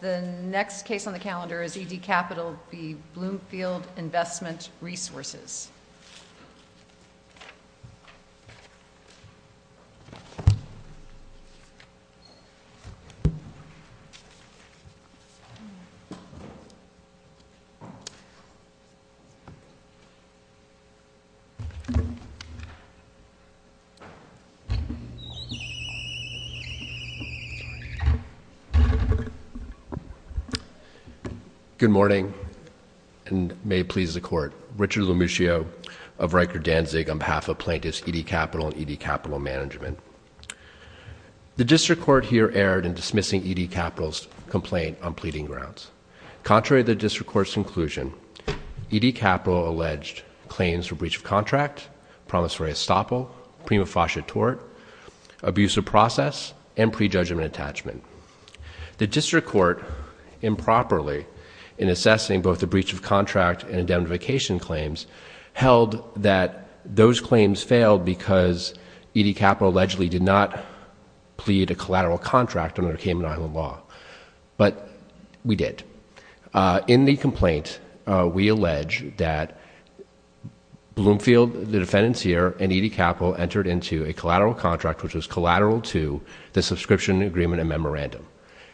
The next case on the calendar is E.D. Capital v. Bloomfield Investment Resources. E.D. Capital v. Bloomfield Investment Resources District Court improperly in assessing both the breach of contract and indemnification claims held that those claims failed because E.D. Capital allegedly did not plead a collateral contract under Cayman Island law, but we did. In the complaint, we allege that Bloomfield, the defendant's ear, and E.D. Capital entered into a collateral contract which was collateral to the subscription agreement and memorandum,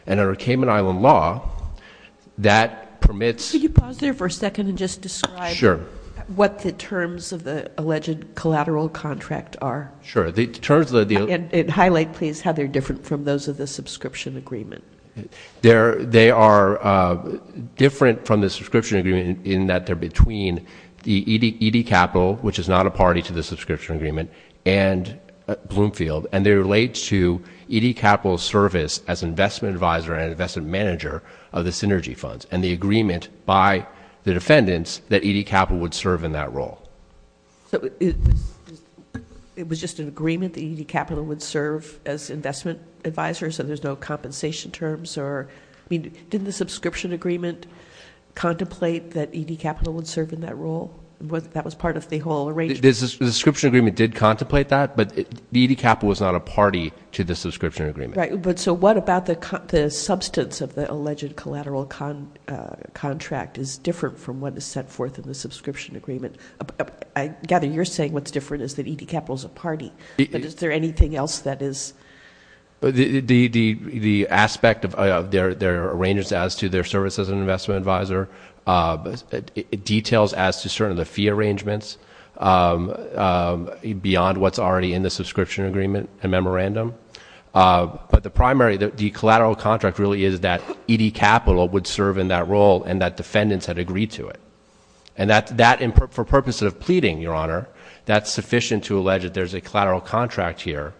and under Cayman Island law, that permits- Could you pause there for a second and just describe what the terms of the alleged collateral contract are? Sure. The terms of the- And highlight, please, how they're different from those of the subscription agreement. They are different from the subscription agreement in that they're between the E.D. Capital, which is not a party to the subscription agreement, and Bloomfield, and they relate to E.D. Capital's service as investment advisor and investment manager of the Synergy Funds, and the agreement by the defendants that E.D. Capital would serve in that role. It was just an agreement that E.D. Capital would serve as investment advisor, so there's no compensation terms or- I mean, didn't the subscription agreement contemplate that E.D. Capital would serve in that role? That was part of the whole arrangement. The subscription agreement did contemplate that, but E.D. Capital was not a party to the subscription agreement. Right, but so what about the substance of the alleged collateral contract is different from what is set forth in the subscription agreement? I gather you're saying what's different is that E.D. Capital's a party, but is there anything else that is- The aspect of their arrangements as to their service as an investment advisor, details as to certain of the fee arrangements beyond what's already in the subscription agreement and memorandum, but the primary, the collateral contract really is that E.D. Capital would serve in that role and that defendants had agreed to it, and that, for purposes of pleading, Your Honor, that's sufficient to allege that there's a collateral contract here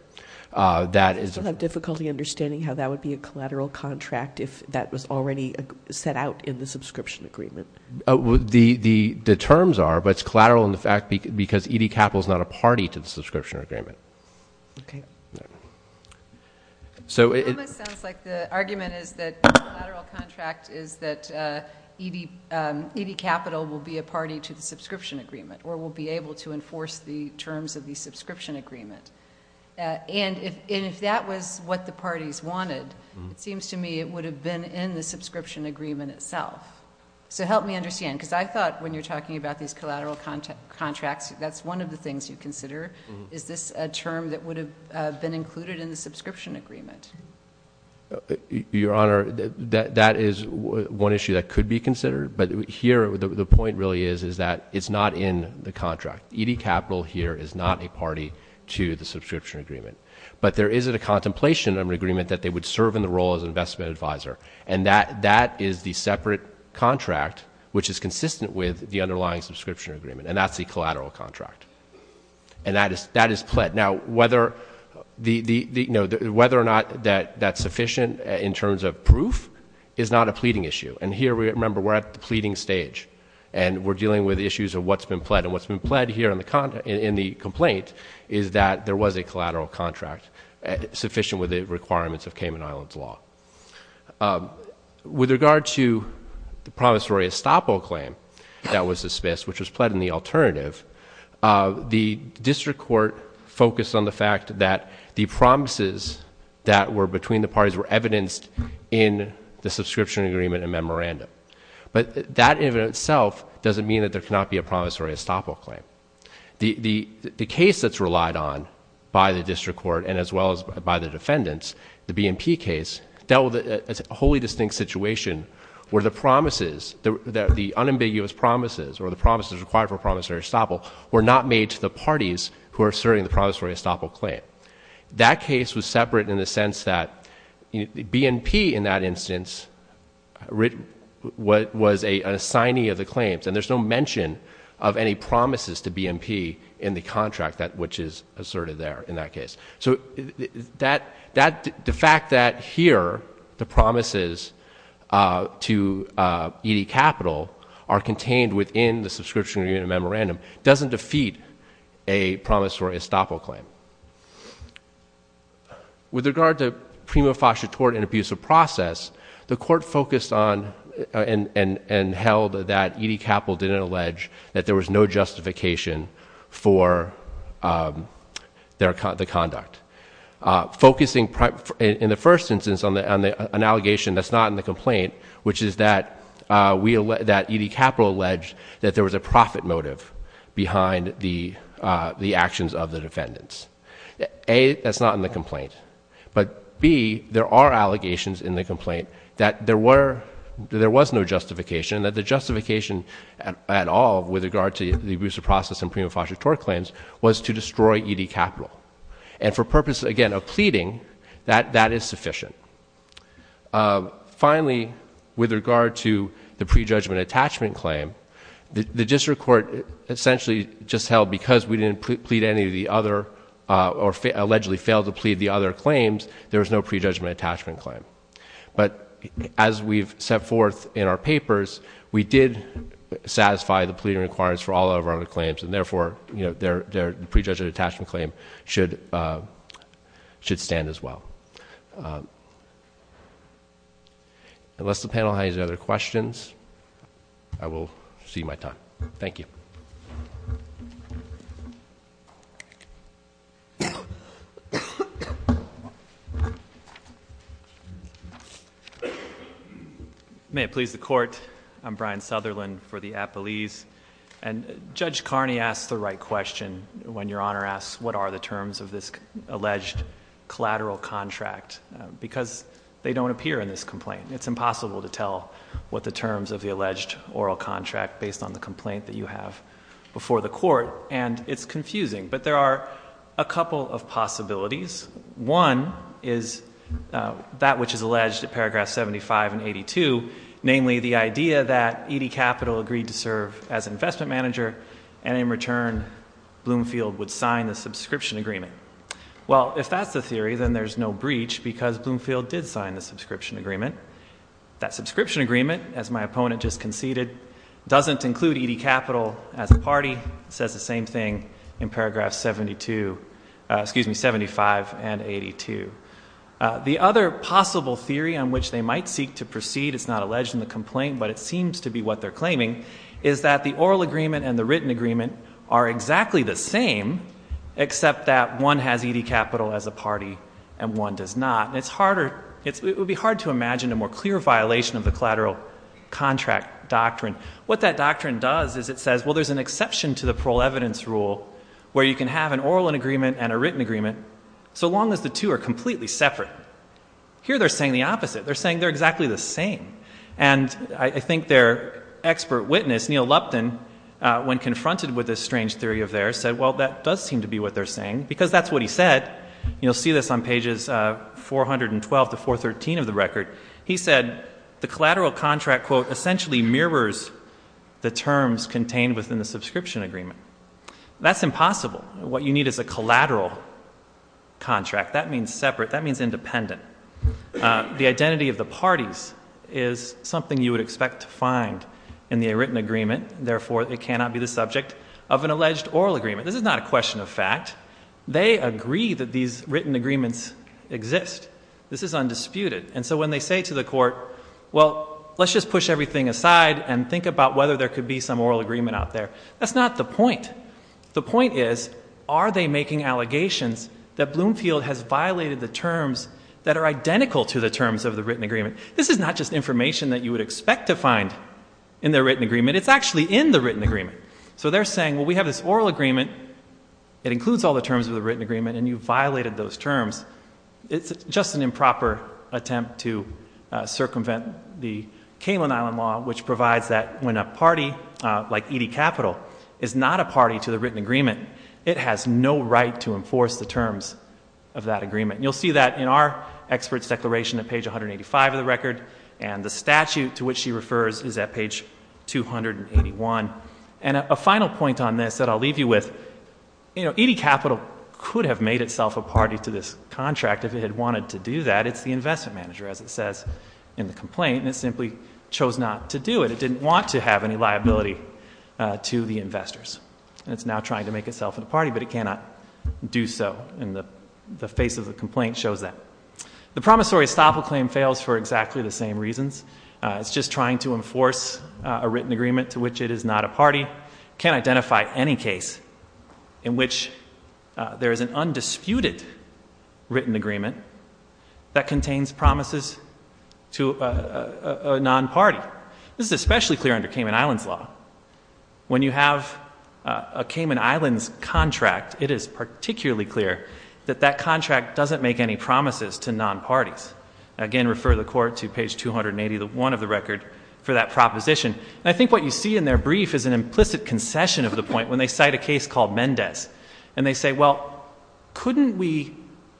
that is- I still have difficulty understanding how that would be a collateral contract if that was already set out in the subscription agreement. The terms are, but it's collateral in the fact because E.D. Capital's not a party to the subscription agreement. Okay. So it- It almost sounds like the argument is that the collateral contract is that E.D. Capital will be a party to the subscription agreement or will be able to enforce the terms of the subscription agreement, and if that was what the parties wanted, it seems to me it would have been in the subscription agreement itself. So help me understand, because I thought when you're talking about these collateral contracts, that's one of the things you consider. Is this a term that would have been included in the subscription agreement? Your Honor, that is one issue that could be considered, but here the point really is that it's not in the contract. E.D. Capital here is not a party to the subscription agreement, but there is a contemplation of an agreement that they would serve in the role as investment advisor, and that is the separate contract which is consistent with the underlying subscription agreement, and that's the collateral contract. And that is pled. Now whether or not that's sufficient in terms of proof is not a pleading issue. And here, remember, we're at the pleading stage, and we're dealing with issues of what's been pled. And what's been pled here in the complaint is that there was a collateral contract sufficient with the requirements of Cayman Islands law. With regard to the promissory estoppel claim that was dismissed, which was pled in the alternative, the district court focused on the fact that the promises that were between the parties were evidenced in the subscription agreement and memorandum. But that in and of itself doesn't mean that there cannot be a promissory estoppel claim. The case that's relied on by the district court and as well as by the defendants, the dealt with a wholly distinct situation where the promises, the unambiguous promises or the promises required for promissory estoppel were not made to the parties who are serving the promissory estoppel claim. That case was separate in the sense that BNP in that instance was an assignee of the claims, and there's no mention of any promises to BNP in the contract which is asserted there in that case. So the fact that here the promises to E.D. Capital are contained within the subscription agreement and memorandum doesn't defeat a promissory estoppel claim. With regard to prima facie tort and abuse of process, the court focused on and held that E.D. Capital didn't allege that there was no justification for the conduct. Focusing in the first instance on an allegation that's not in the complaint, which is that E.D. Capital alleged that there was a profit motive behind the actions of the defendants. A, that's not in the complaint. But B, there are allegations in the complaint that there was no justification and that the justification at all with regard to the abuse of process and prima facie tort claims was to destroy E.D. Capital. And for purposes, again, of pleading, that is sufficient. Finally, with regard to the prejudgment attachment claim, the district court essentially just held because we didn't plead any of the other or allegedly failed to plead the other claims, there was no prejudgment attachment claim. But as we've set forth in our papers, we did satisfy the pleading requirements for all of our other claims, and therefore, the prejudgment attachment claim should stand as well. Unless the panel has any other questions, I will cede my time. Thank you. May it please the court. I'm Brian Sutherland for the Appalese. And Judge Carney asked the right question when your honor asked what are the terms of this alleged collateral contract. Because they don't appear in this complaint. It's impossible to tell what the terms of the alleged oral contract based on the complaint that you have before the court. And it's confusing, but there are a couple of possibilities. One is that which is alleged in paragraph 75 and 82, namely the idea that E.D. Capital agreed to serve as investment manager. And in return, Bloomfield would sign the subscription agreement. Well, if that's the theory, then there's no breach because Bloomfield did sign the subscription agreement. That subscription agreement, as my opponent just conceded, doesn't include E.D. Capital as a party. It says the same thing in paragraph 72, excuse me, 75 and 82. The other possible theory on which they might seek to proceed, it's not alleged in the complaint, but it seems to be what they're claiming. Is that the oral agreement and the written agreement are exactly the same, except that one has E.D. Capital as a party and one does not. And it would be hard to imagine a more clear violation of the collateral contract doctrine. What that doctrine does is it says, well, there's an exception to the parole evidence rule, where you can have an oral agreement and a written agreement, so long as the two are completely separate. Here, they're saying the opposite. They're saying they're exactly the same. And I think their expert witness, Neil Lupton, when confronted with this strange theory of theirs, said, well, that does seem to be what they're saying, because that's what he said. You'll see this on pages 412 to 413 of the record. He said, the collateral contract quote, essentially mirrors the terms contained within the subscription agreement. That's impossible. What you need is a collateral contract. That means separate. That means independent. The identity of the parties is something you would expect to find in the written agreement. Therefore, it cannot be the subject of an alleged oral agreement. This is not a question of fact. They agree that these written agreements exist. This is undisputed. And so when they say to the court, well, let's just push everything aside and think about whether there could be some oral agreement out there, that's not the point. The point is, are they making allegations that Bloomfield has violated the terms that are identical to the terms of the written agreement? This is not just information that you would expect to find in the written agreement. It's actually in the written agreement. So they're saying, well, we have this oral agreement, it includes all the terms of the written agreement, and you violated those terms. It's just an improper attempt to circumvent the Kalen Island Law, which provides that when a party, like E.D. Capital, is not a party to the written agreement, it has no right to enforce the terms of that agreement. You'll see that in our expert's declaration at page 185 of the record, and the statute to which she refers is at page 281. And a final point on this that I'll leave you with, E.D. Capital could have made itself a party to this contract if it had wanted to do that. It's the investment manager, as it says in the complaint, and it simply chose not to do it. It didn't want to have any liability to the investors. And it's now trying to make itself a party, but it cannot do so, and the face of the complaint shows that. The promissory estoppel claim fails for exactly the same reasons. It's just trying to enforce a written agreement to which it is not a party. Can't identify any case in which there is an undisputed written agreement that contains promises to a non-party. This is especially clear under Kalen Island's law. When you have a Kalen Island's contract, it is particularly clear that that contract doesn't make any promises to non-parties. Again, refer the court to page 281 of the record for that proposition. And I think what you see in their brief is an implicit concession of the point when they cite a case called Mendez. And they say, well, couldn't we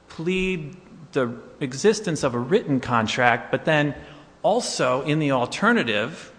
plead the existence of a written contract, but then also in the alternative,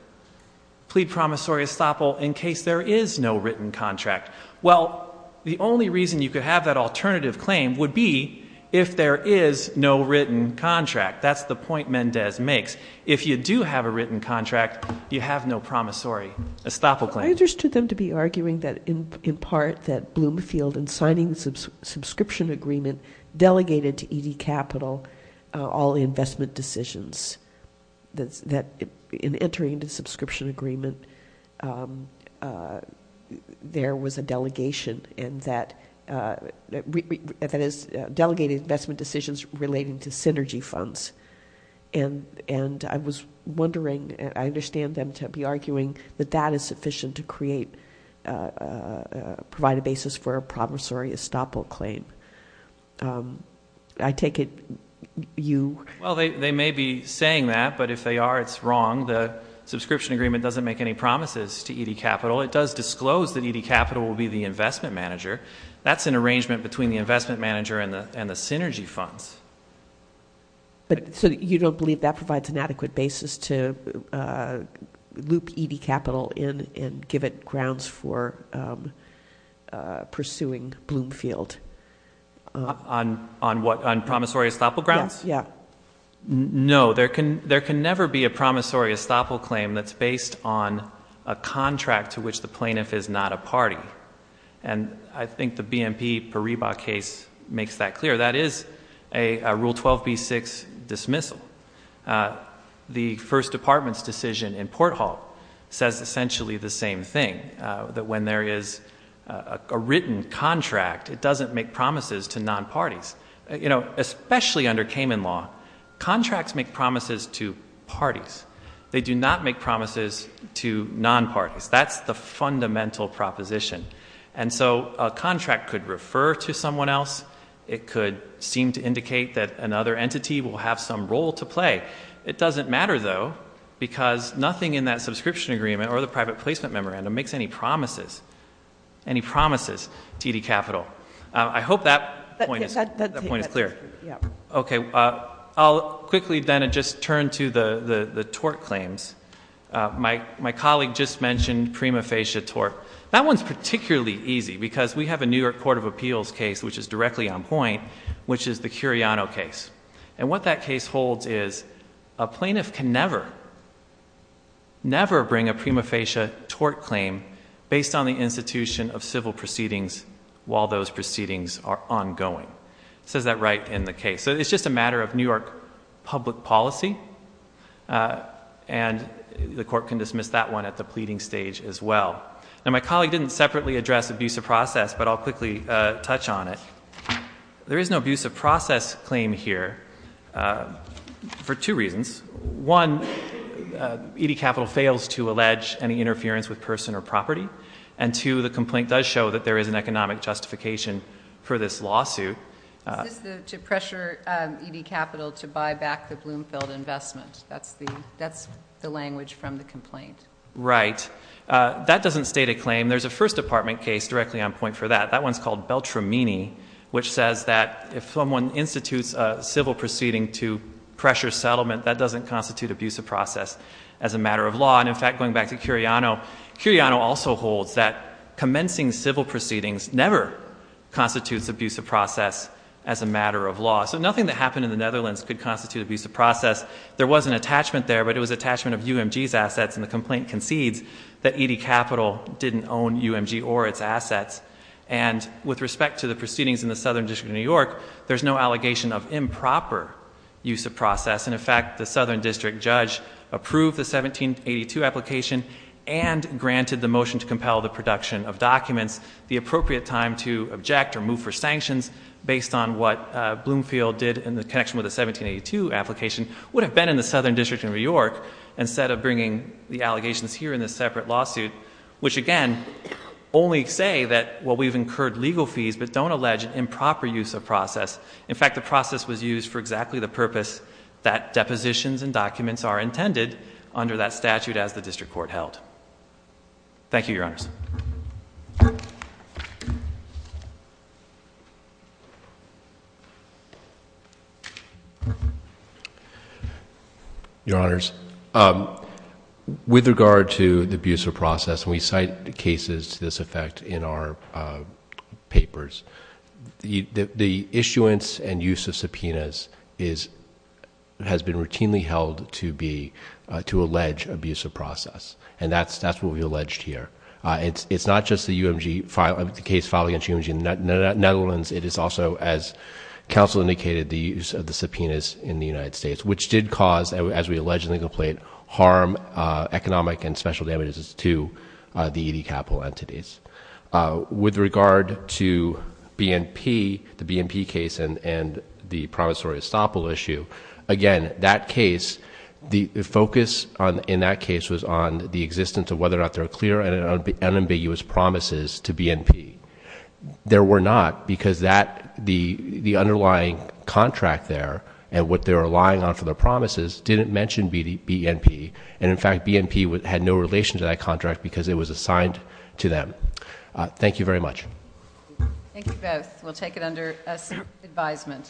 plead promissory estoppel in case there is no written contract. Well, the only reason you could have that alternative claim would be if there is no written contract. That's the point Mendez makes. If you do have a written contract, you have no promissory estoppel claim. I understood them to be arguing that in part that Bloomfield in signing the subscription agreement delegated to ED Capital all investment decisions. That in entering the subscription agreement there was a delegation. And that is delegated investment decisions relating to synergy funds. And I was wondering, I understand them to be arguing that that is sufficient to provide a basis for a promissory estoppel claim. I take it you- I'm not saying that, but if they are, it's wrong. The subscription agreement doesn't make any promises to ED Capital. It does disclose that ED Capital will be the investment manager. That's an arrangement between the investment manager and the synergy funds. But, so you don't believe that provides an adequate basis to loop ED Capital in and give it grounds for pursuing Bloomfield? On what? On promissory estoppel grounds? Yeah. No, there can never be a promissory estoppel claim that's based on a contract to which the plaintiff is not a party. And I think the BMP Paribas case makes that clear. That is a Rule 12B6 dismissal. The first department's decision in Port Hall says essentially the same thing. That when there is a written contract, it doesn't make promises to non-parties. Especially under Cayman Law, contracts make promises to parties. They do not make promises to non-parties. That's the fundamental proposition. And so a contract could refer to someone else. It could seem to indicate that another entity will have some role to play. It doesn't matter though, because nothing in that subscription agreement or the private placement memorandum makes any promises to ED Capital. I hope that point is clear. Okay, I'll quickly then just turn to the tort claims. My colleague just mentioned prima facie tort. That one's particularly easy, because we have a New York Court of Appeals case, which is directly on point, which is the Curiano case. And what that case holds is a plaintiff can never, never bring a prima facie tort claim based on the institution of civil proceedings while those proceedings are ongoing. It says that right in the case. So it's just a matter of New York public policy. And the court can dismiss that one at the pleading stage as well. Now my colleague didn't separately address abuse of process, but I'll quickly touch on it. There is no abuse of process claim here for two reasons. One, ED Capital fails to allege any interference with person or property. And two, the complaint does show that there is an economic justification for this lawsuit. Is this to pressure ED Capital to buy back the Bloomfield investment? That's the language from the complaint. Right. That doesn't state a claim. There's a first department case directly on point for that. That one's called Beltramini, which says that if someone institutes a civil proceeding to doesn't constitute abuse of process as a matter of law. And in fact, going back to Curiano, Curiano also holds that commencing civil proceedings never constitutes abuse of process as a matter of law, so nothing that happened in the Netherlands could constitute abuse of process. There was an attachment there, but it was attachment of UMG's assets, and the complaint concedes that ED Capital didn't own UMG or its assets. And with respect to the proceedings in the Southern District of New York, there's no allegation of improper use of process. And in fact, the Southern District judge approved the 1782 application and granted the motion to compel the production of documents. The appropriate time to object or move for sanctions based on what Bloomfield did in the connection with the 1782 application would have been in the Southern District of New York. Instead of bringing the allegations here in this separate lawsuit. Which again, only say that what we've incurred legal fees, but don't allege improper use of process. In fact, the process was used for exactly the purpose that depositions and documents are intended under that statute as the district court held. Thank you, your honors. Your honors, with regard to the abuse of process, we cite cases to this effect in our papers. The issuance and use of subpoenas has been routinely held to be, to allege abuse of process. And that's what we alleged here. It's not just the case filed against UMG in the Netherlands. It is also, as counsel indicated, the use of the subpoenas in the United States. Which did cause, as we allege in the complaint, harm, economic and special damages to the ED Capital entities. With regard to BNP, the BNP case and the promissory estoppel issue. Again, that case, the focus in that case was on the existence of whether or not there are clear and unambiguous promises to BNP. There were not, because the underlying contract there and what they're relying on for their promises didn't mention BNP. And in fact, BNP had no relation to that contract because it was assigned to them. Thank you very much. Thank you both. We'll take it under advisement.